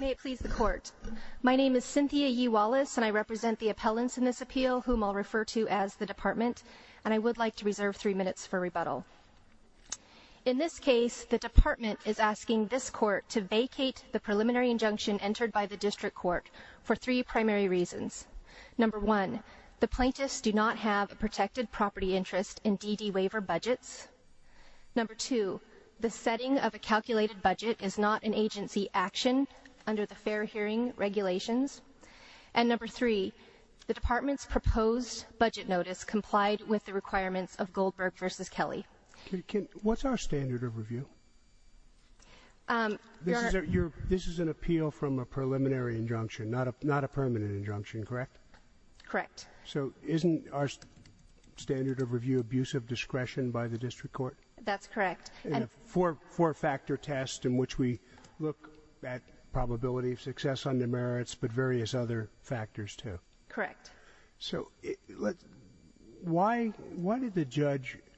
May it please the Court. My name is Cynthia Yee Wallace, and I represent the appellants in this appeal, whom I'll refer to as the Department, and I would like to reserve three minutes for rebuttal. In this case, the Department is asking this Court to vacate the preliminary injunction entered by the District Court for three primary reasons. Number one, the plaintiffs do not have a protected property interest in DD waiver budgets. Number two, the setting of a calculated budget is not an agency action under the fair hearing regulations. And number three, the Department's proposed budget notice complied with the requirements of Goldberg v. Kelly. What's our standard of review? This is an appeal from a preliminary injunction, not a permanent injunction, correct? Correct. So isn't our standard of review abusive discretion by the District Court? That's correct. And a four-factor test in which we look at probability of success under merits, but various other factors, too. Correct. So why did the judge –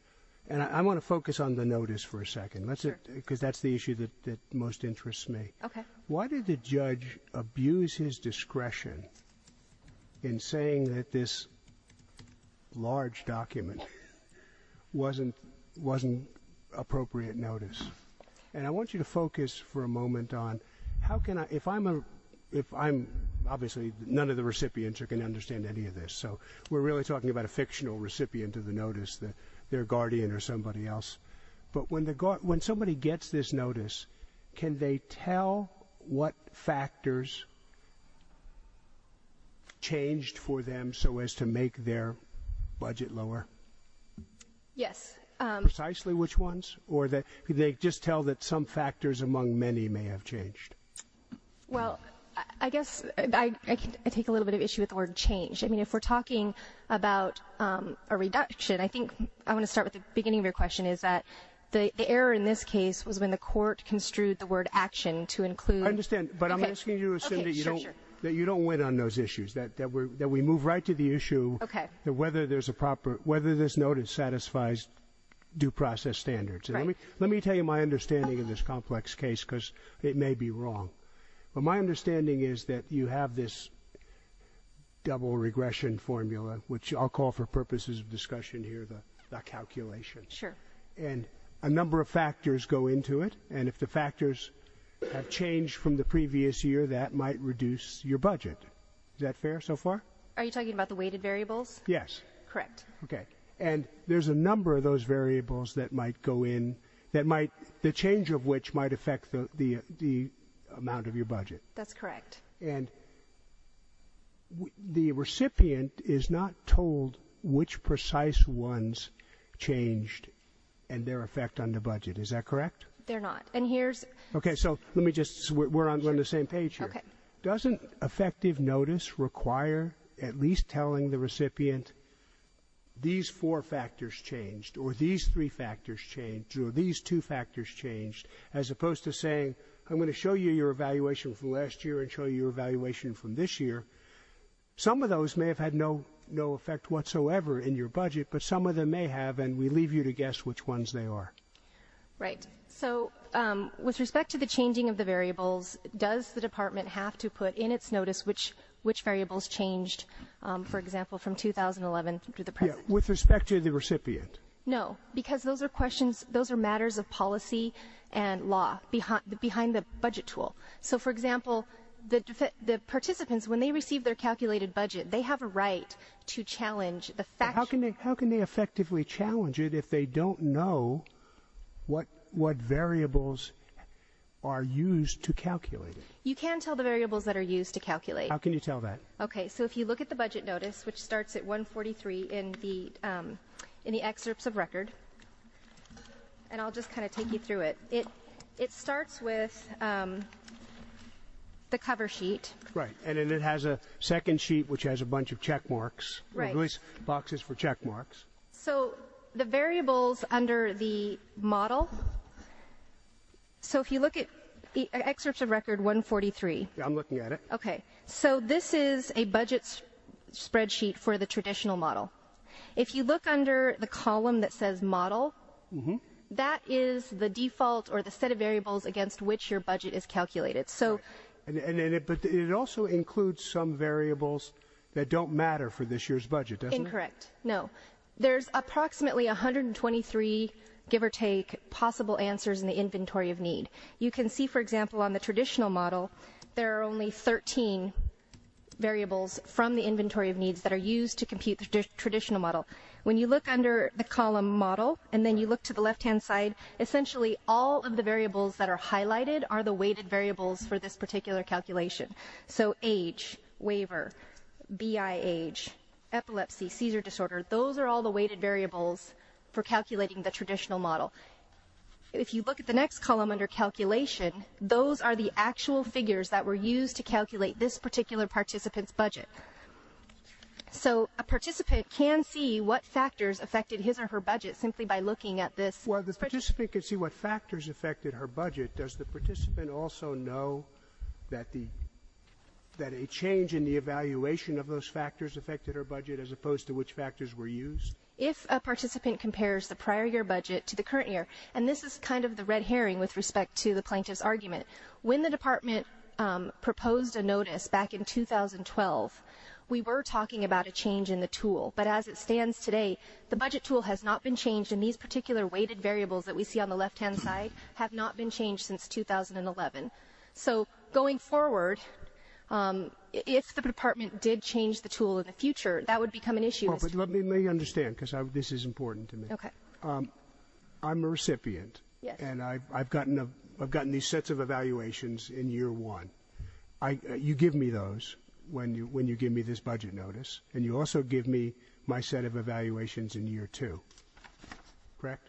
and I want to focus on the notice for a second, because that's the issue that most interests me. Okay. Why did the judge abuse his discretion in saying that this large document wasn't appropriate notice? And I want you to focus for a moment on how can I – if I'm – obviously, none of the recipients are going to understand any of this, so we're really talking about a fictional recipient of the notice, their guardian or somebody else. But when somebody gets this notice, can they tell what factors changed for them so as to make their budget lower? Yes. Precisely which ones? Or could they just tell that some factors among many may have changed? Well, I guess I take a little bit of issue with the word change. I mean, if we're talking about a reduction, I think I want to start with the beginning of your question, is that the error in this case was when the court construed the word action to include – I understand, but I'm asking you to assume that you don't – Okay, sure, sure. That you don't win on those issues, that we move right to the issue – Okay. – of whether there's a proper – whether this notice satisfies due process standards. Right. Let me tell you my understanding of this complex case because it may be wrong. But my understanding is that you have this double regression formula, which I'll call for purposes of discussion here the calculations. Sure. And a number of factors go into it, and if the factors have changed from the previous year, that might reduce your budget. Is that fair so far? Are you talking about the weighted variables? Yes. Correct. Okay. And there's a number of those variables that might go in that might – the change of which might affect the amount of your budget. That's correct. And the recipient is not told which precise ones changed and their effect on the budget. Is that correct? They're not. And here's – Okay, so let me just – we're on the same page here. Okay. Doesn't effective notice require at least telling the recipient these four factors changed or these three factors changed or these two factors changed as opposed to saying, I'm going to show you your evaluation from last year and show you your evaluation from this year. Some of those may have had no effect whatsoever in your budget, but some of them may have, and we leave you to guess which ones they are. Right. So with respect to the changing of the variables, does the department have to put in its notice which variables changed, for example, from 2011 to the present? Yeah, with respect to the recipient. No, because those are questions – those are matters of policy and law behind the budget tool. So, for example, the participants, when they receive their calculated budget, they have a right to challenge the – How can they effectively challenge it if they don't know what variables are used to calculate it? You can tell the variables that are used to calculate. How can you tell that? Okay, so if you look at the budget notice, which starts at 143 in the excerpts of record, and I'll just kind of take you through it. It starts with the cover sheet. Right, and then it has a second sheet which has a bunch of check marks. Right. Boxes for check marks. So the variables under the model – so if you look at excerpts of record 143. Yeah, I'm looking at it. Okay, so this is a budget spreadsheet for the traditional model. If you look under the column that says model, that is the default or the set of variables against which your budget is calculated. But it also includes some variables that don't matter for this year's budget, doesn't it? Incorrect, no. There's approximately 123, give or take, possible answers in the inventory of need. You can see, for example, on the traditional model, there are only 13 variables from the inventory of needs that are used to compute the traditional model. When you look under the column model and then you look to the left-hand side, essentially all of the variables that are highlighted are the weighted variables for this particular calculation. So age, waiver, BI age, epilepsy, seizure disorder, those are all the weighted variables for calculating the traditional model. If you look at the next column under calculation, those are the actual figures that were used to calculate this particular participant's budget. So a participant can see what factors affected his or her budget simply by looking at this. If a participant can see what factors affected her budget, does the participant also know that a change in the evaluation of those factors affected her budget as opposed to which factors were used? If a participant compares the prior year budget to the current year, and this is kind of the red herring with respect to the plaintiff's argument, when the Department proposed a notice back in 2012, we were talking about a change in the tool. But as it stands today, the budget tool has not been changed, and these particular weighted variables that we see on the left-hand side have not been changed since 2011. So going forward, if the Department did change the tool in the future, that would become an issue. Let me understand, because this is important to me. Okay. I'm a recipient. Yes. And I've gotten these sets of evaluations in year one. You give me those when you give me this budget notice, and you also give me my set of evaluations in year two. Correct?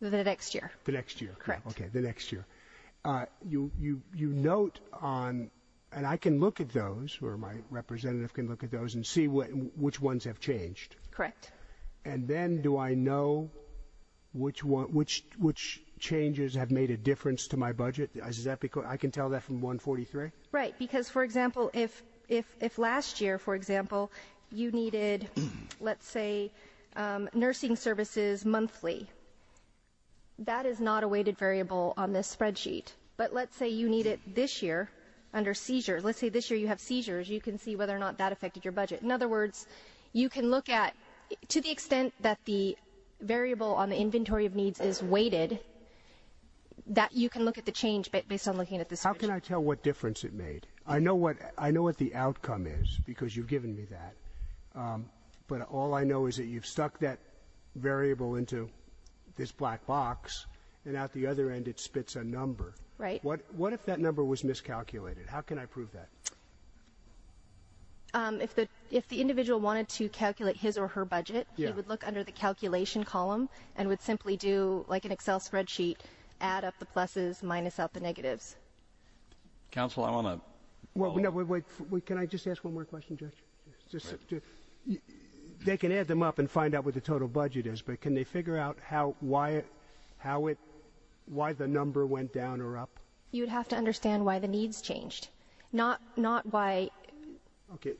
The next year. The next year. Correct. Okay, the next year. You note on, and I can look at those, or my representative can look at those and see which ones have changed. Correct. And then do I know which changes have made a difference to my budget? I can tell that from 143? Right, because, for example, if last year, for example, you needed, let's say, nursing services monthly, that is not a weighted variable on this spreadsheet. But let's say you need it this year under seizures. Let's say this year you have seizures. You can see whether or not that affected your budget. In other words, you can look at, to the extent that the variable on the inventory of needs is weighted, that you can look at the change based on looking at the spreadsheet. How can I tell what difference it made? I know what the outcome is because you've given me that, but all I know is that you've stuck that variable into this black box, and at the other end it spits a number. Right. What if that number was miscalculated? How can I prove that? If the individual wanted to calculate his or her budget, he would look under the calculation column and would simply do, like an Excel spreadsheet, add up the pluses, minus out the negatives. Counsel, I want to follow up. Wait. Can I just ask one more question, Judge? They can add them up and find out what the total budget is, but can they figure out why the number went down or up? You would have to understand why the needs changed, not why. Okay.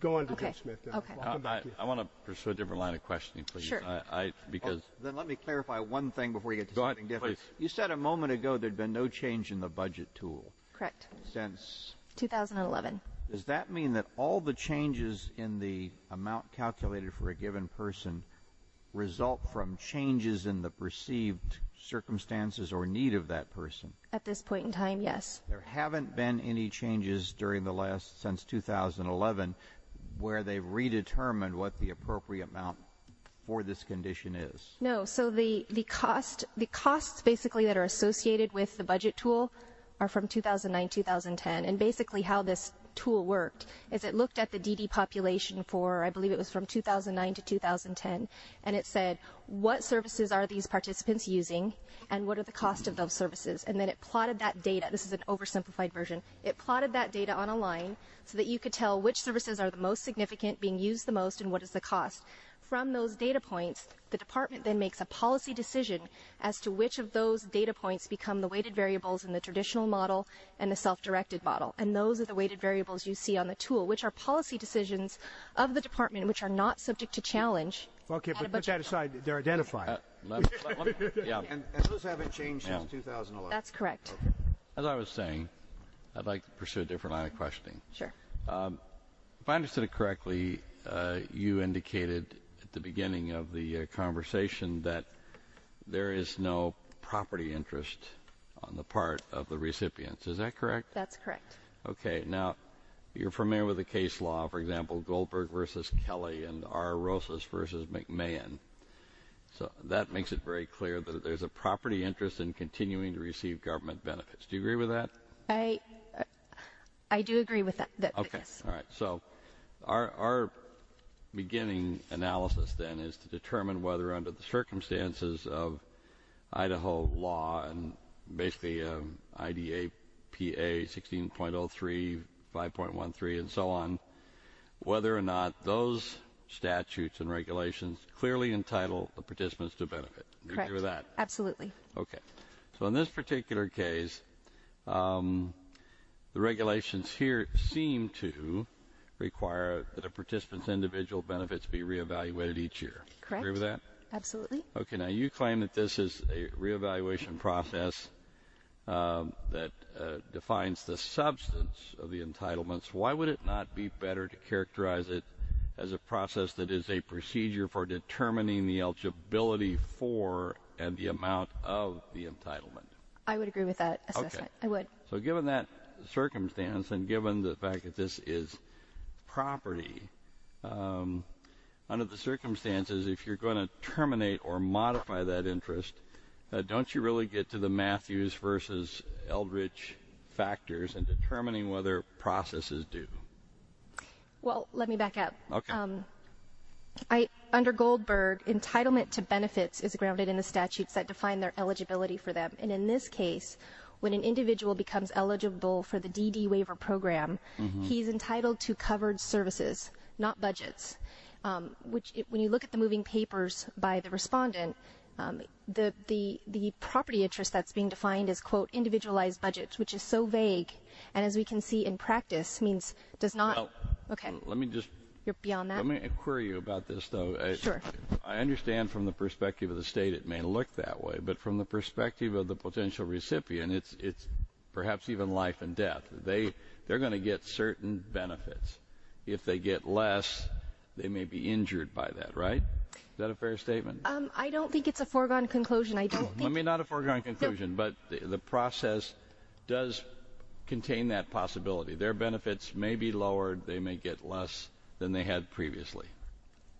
Go on, Judge Smith. Okay. Welcome back. I want to pursue a different line of questioning, please. Sure. Then let me clarify one thing before you get to something different. Go ahead, please. You said a moment ago there had been no change in the budget tool. Correct. Since? 2011. Does that mean that all the changes in the amount calculated for a given person result from changes in the perceived circumstances or need of that person? At this point in time, yes. There haven't been any changes since 2011 where they've redetermined what the appropriate amount for this condition is? No. So the costs basically that are associated with the budget tool are from 2009-2010. And basically how this tool worked is it looked at the DD population for, I believe it was from 2009 to 2010, and it said what services are these participants using and what are the costs of those services? And then it plotted that data. This is an oversimplified version. It plotted that data on a line so that you could tell which services are the most significant, being used the most, and what is the cost. From those data points, the department then makes a policy decision as to which of those data points become the weighted variables in the traditional model and the self-directed model. And those are the weighted variables you see on the tool, which are policy decisions of the department which are not subject to challenge. Okay, but put that aside. They're identified. And those haven't changed since 2011? That's correct. Okay. As I was saying, I'd like to pursue a different line of questioning. Sure. If I understood it correctly, you indicated at the beginning of the conversation that there is no property interest on the part of the recipients. Is that correct? That's correct. Okay. Now, you're familiar with the case law, for example, Goldberg v. Kelly and R. Rosas v. McMahon. So that makes it very clear that there's a property interest in continuing to receive government benefits. Do you agree with that? I do agree with that. Okay. All right. So our beginning analysis, then, is to determine whether under the circumstances of Idaho law and basically IDAPA 16.03, 5.13, and so on, whether or not those statutes and regulations clearly entitle the participants to benefit. Correct. Do you agree with that? Absolutely. Okay. So in this particular case, the regulations here seem to require that a participant's individual benefits be re-evaluated each year. Correct. Do you agree with that? Absolutely. Okay. Now, you claim that this is a re-evaluation process that defines the substance of the entitlements. Why would it not be better to characterize it as a process that is a procedure for determining the eligibility for and the amount of the entitlement? I would agree with that assessment. Okay. I would. So given that circumstance and given the fact that this is property, under the circumstances, if you're going to terminate or modify that interest, don't you really get to the Matthews versus Eldridge factors in determining whether a process is due? Well, let me back up. Okay. Under Goldberg, entitlement to benefits is grounded in the statutes that define their eligibility for them. And in this case, when an individual becomes eligible for the DD waiver program, he's entitled to covered services, not budgets, which when you look at the moving papers by the respondent, the property interest that's being defined is, quote, individualized budgets, which is so vague. And as we can see in practice, means does not. Okay. So let me just query you about this, though. Sure. I understand from the perspective of the state it may look that way, but from the perspective of the potential recipient, it's perhaps even life and death. They're going to get certain benefits. If they get less, they may be injured by that, right? Is that a fair statement? I don't think it's a foregone conclusion. Not a foregone conclusion, but the process does contain that possibility. Their benefits may be lowered. They may get less than they had previously.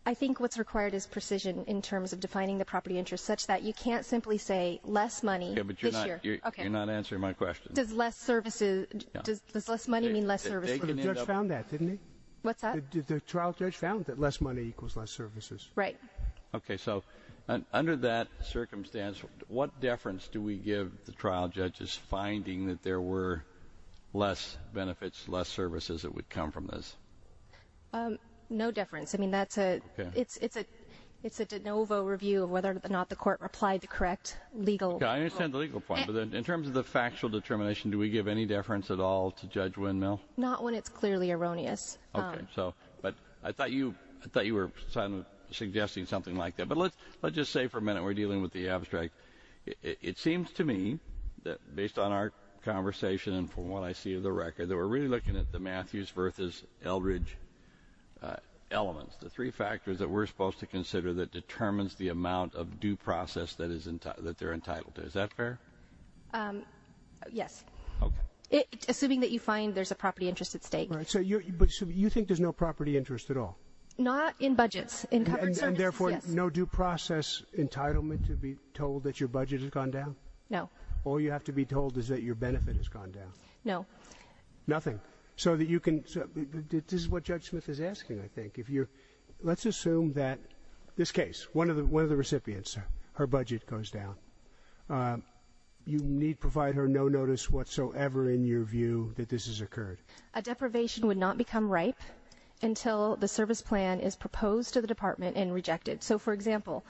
I think what's required is precision in terms of defining the property interest such that you can't simply say less money this year. Okay, but you're not answering my question. Does less money mean less services? The judge found that, didn't he? What's that? The trial judge found that less money equals less services. Right. Okay. So under that circumstance, what deference do we give the trial judges finding that there were less benefits, less services that would come from this? No deference. I mean, it's a de novo review of whether or not the court replied to correct legal. I understand the legal point. In terms of the factual determination, do we give any deference at all to Judge Windmill? Not when it's clearly erroneous. Okay. But I thought you were suggesting something like that. But let's just say for a minute we're dealing with the abstract. It seems to me that based on our conversation and from what I see of the record, that we're really looking at the Matthews versus Eldridge elements, the three factors that we're supposed to consider that determines the amount of due process that they're entitled to. Is that fair? Yes. Okay. Assuming that you find there's a property interest at stake. Right. So you think there's no property interest at all? Not in budgets. In covered services, yes. No due process entitlement to be told that your budget has gone down? No. All you have to be told is that your benefit has gone down? No. Nothing. So that you can – this is what Judge Smith is asking, I think. If you're – let's assume that this case, one of the recipients, her budget goes down. You need provide her no notice whatsoever in your view that this has occurred. A deprivation would not become ripe until the service plan is proposed to the department and rejected. So, for example,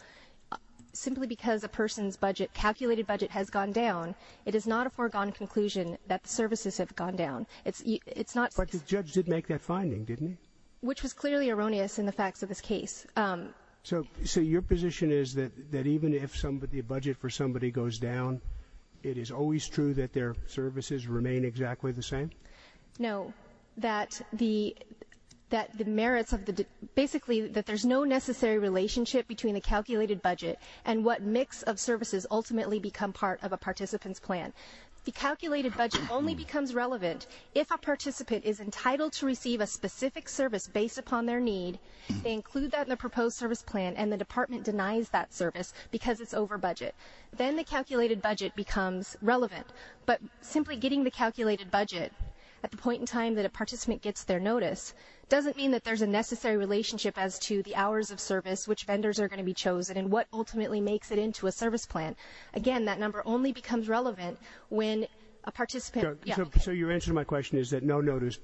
simply because a person's budget, calculated budget, has gone down, it is not a foregone conclusion that the services have gone down. It's not – But the judge did make that finding, didn't he? Which was clearly erroneous in the facts of this case. So your position is that even if the budget for somebody goes down, it is always true that their services remain exactly the same? No. That the merits of the – basically that there's no necessary relationship between the calculated budget and what mix of services ultimately become part of a participant's plan. The calculated budget only becomes relevant if a participant is entitled to receive a specific service based upon their need, they include that in the proposed service plan, and the department denies that service because it's over budget. Then the calculated budget becomes relevant. But simply getting the calculated budget at the point in time that a participant gets their notice doesn't mean that there's a necessary relationship as to the hours of service, which vendors are going to be chosen, and what ultimately makes it into a service plan. Again, that number only becomes relevant when a participant – So your answer to my question is that no notice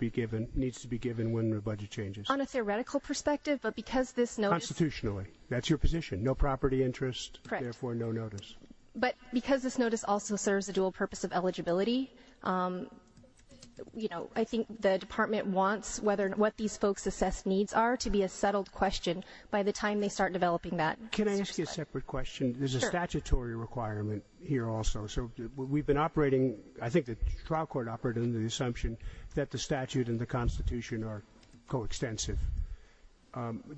needs to be given when the budget changes. On a theoretical perspective, but because this notice – Constitutionally. That's your position. No property interest, therefore no notice. But because this notice also serves a dual purpose of eligibility, I think the department wants what these folks' assessed needs are to be a settled question by the time they start developing that. Can I ask you a separate question? Sure. There's a statutory requirement here also, so we've been operating – I think the trial court operated under the assumption that the statute and the Constitution are coextensive.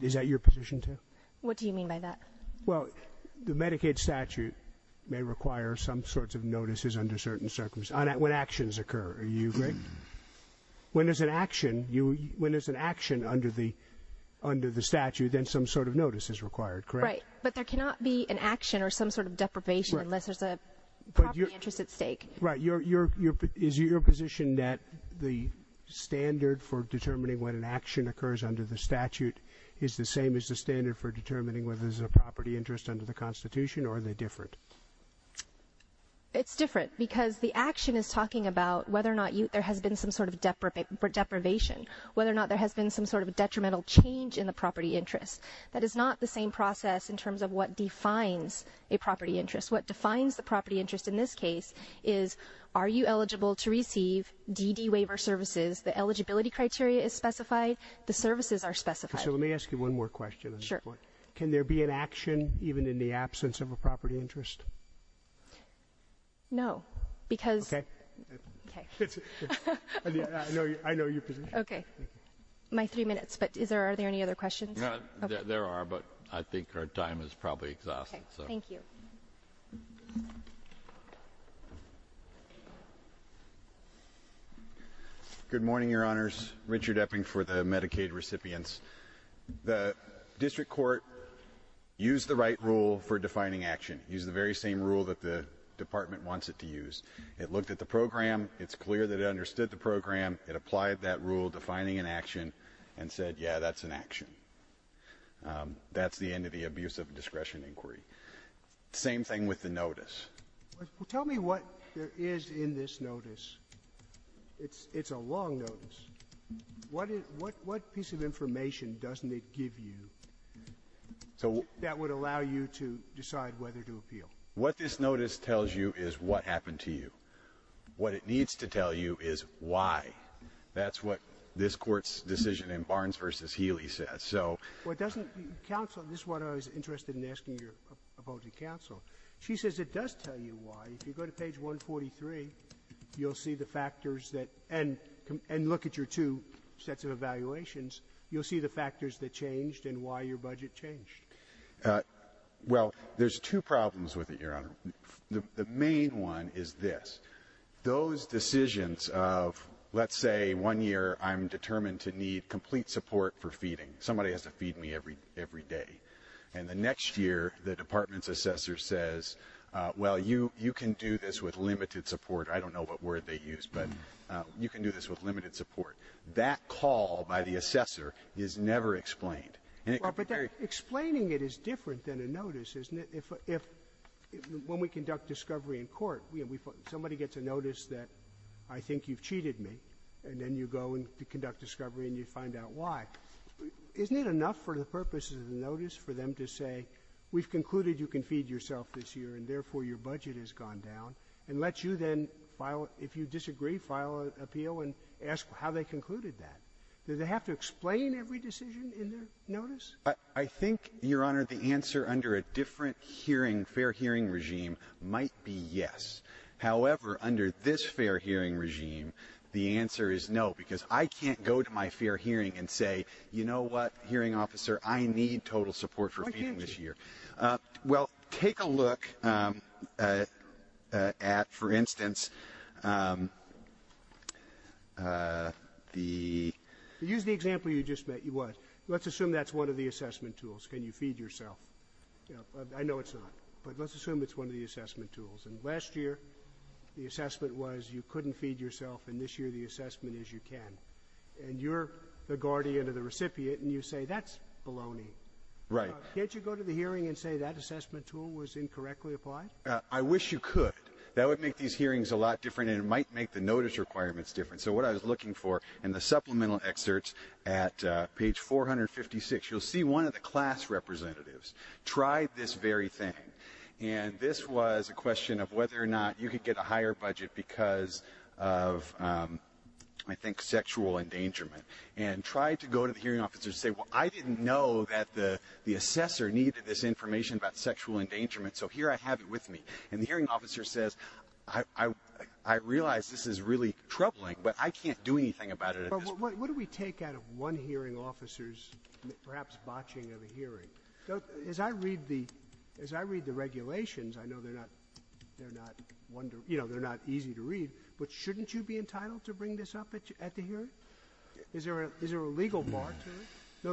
Is that your position, too? What do you mean by that? Well, the Medicaid statute may require some sorts of notices under certain circumstances – when actions occur, are you correct? When there's an action under the statute, then some sort of notice is required, correct? Right. But there cannot be an action or some sort of deprivation unless there's a property interest at stake. Right. Is your position that the standard for determining when an action occurs under the statute is the same as the standard for determining whether there's a property interest under the Constitution, or are they different? It's different because the action is talking about whether or not there has been some sort of deprivation, whether or not there has been some sort of detrimental change in the property interest. That is not the same process in terms of what defines a property interest. What defines the property interest in this case is are you eligible to receive DD waiver services? The eligibility criteria is specified. The services are specified. So let me ask you one more question at this point. Sure. Can there be an action even in the absence of a property interest? No, because – Okay. Okay. I know your position. Okay. My three minutes, but are there any other questions? There are, but I think our time is probably exhausted. Okay. Thank you. Good morning, Your Honors. Richard Epping for the Medicaid recipients. The district court used the right rule for defining action, used the very same rule that the department wants it to use. It looked at the program. It's clear that it understood the program. It applied that rule defining an action and said, yeah, that's an action. That's the end of the abuse of discretion inquiry. Same thing with the notice. Tell me what there is in this notice. It's a long notice. What piece of information doesn't it give you that would allow you to decide whether to appeal? What this notice tells you is what happened to you. What it needs to tell you is why. That's what this court's decision in Barnes v. Healy says. Counsel, this is what I was interested in asking your opposing counsel. She says it does tell you why. If you go to page 143, you'll see the factors that, and look at your two sets of evaluations. You'll see the factors that changed and why your budget changed. Well, there's two problems with it, Your Honor. The main one is this. Those decisions of let's say one year I'm determined to need complete support for feeding. Somebody has to feed me every day. And the next year the department's assessor says, well, you can do this with limited support. I don't know what word they used, but you can do this with limited support. That call by the assessor is never explained. But explaining it is different than a notice, isn't it? When we conduct discovery in court, somebody gets a notice that I think you've cheated me, and then you go and conduct discovery and you find out why. Isn't it enough for the purposes of the notice for them to say we've concluded you can feed yourself this year, and therefore your budget has gone down, and let you then file, if you disagree, file an appeal and ask how they concluded that? Do they have to explain every decision in their notice? I think, Your Honor, the answer under a different fair hearing regime might be yes. However, under this fair hearing regime, the answer is no, because I can't go to my fair hearing and say, you know what, hearing officer, I need total support for feeding this year. Why can't you? Well, take a look at, for instance, the... Use the example you just met. Let's assume that's one of the assessment tools. Can you feed yourself? I know it's not, but let's assume it's one of the assessment tools. And last year the assessment was you couldn't feed yourself, and this year the assessment is you can. And you're the guardian or the recipient, and you say that's baloney. Right. Can't you go to the hearing and say that assessment tool was incorrectly applied? I wish you could. That would make these hearings a lot different, and it might make the notice requirements different. So what I was looking for in the supplemental excerpts at page 456, you'll see one of the class representatives tried this very thing, and this was a question of whether or not you could get a higher budget because of, I think, sexual endangerment, and tried to go to the hearing officer and say, well, I didn't know that the assessor needed this information about sexual endangerment, so here I have it with me. And the hearing officer says, I realize this is really troubling, but I can't do anything about it at this point. What do we take out of one hearing officer's perhaps botching of a hearing? As I read the regulations, I know they're not easy to read, but shouldn't you be entitled to bring this up at the hearing? Is there a legal bar to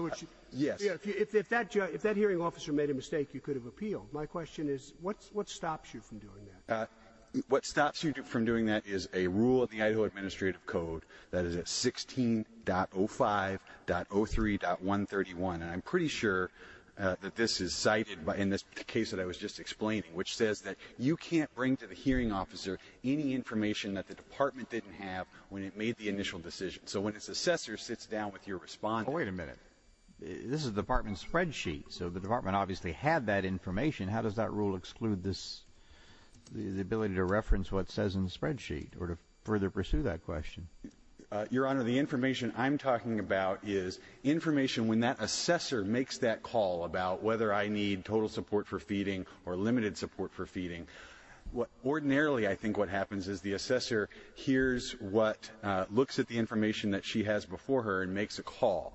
it? Yes. If that hearing officer made a mistake, you could have appealed. My question is, what stops you from doing that? What stops you from doing that is a rule of the Idaho Administrative Code that is at 16.05.03.131, and I'm pretty sure that this is cited in the case that I was just explaining, which says that you can't bring to the hearing officer any information that the department didn't have when it made the initial decision. So when its assessor sits down with your respondent. Wait a minute. This is a department spreadsheet, so the department obviously had that information. How does that rule exclude the ability to reference what it says in the spreadsheet or to further pursue that question? Your Honor, the information I'm talking about is information when that assessor makes that call about whether I need total support for feeding or limited support for feeding. Ordinarily, I think what happens is the assessor hears what looks at the information that she has before her and makes a call.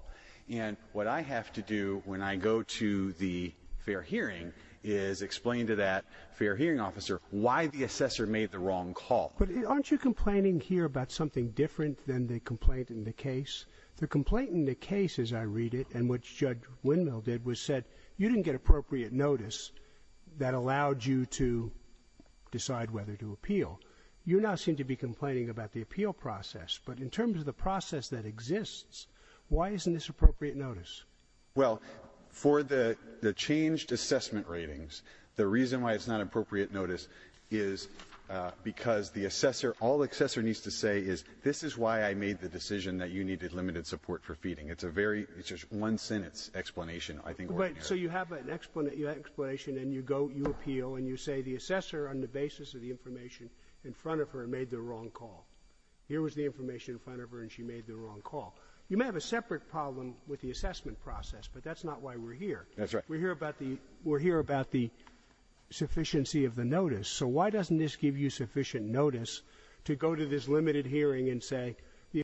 And what I have to do when I go to the fair hearing is explain to that fair hearing officer why the assessor made the wrong call. But aren't you complaining here about something different than the complaint in the case? The complaint in the case, as I read it, and what Judge Windmill did, was said you didn't get appropriate notice that allowed you to decide whether to appeal. You now seem to be complaining about the appeal process. But in terms of the process that exists, why isn't this appropriate notice? Well, for the changed assessment ratings, the reason why it's not appropriate notice is because the assessor, all the assessor needs to say is, this is why I made the decision that you needed limited support for feeding. It's a very one-sentence explanation, I think. So you have an explanation, and you appeal, and you say the assessor, on the basis of the information in front of her, made the wrong call. Here was the information in front of her, and she made the wrong call. You may have a separate problem with the assessment process, but that's not why we're here. That's right. We're here about the sufficiency of the notice. So why doesn't this give you sufficient notice to go to this limited hearing and say,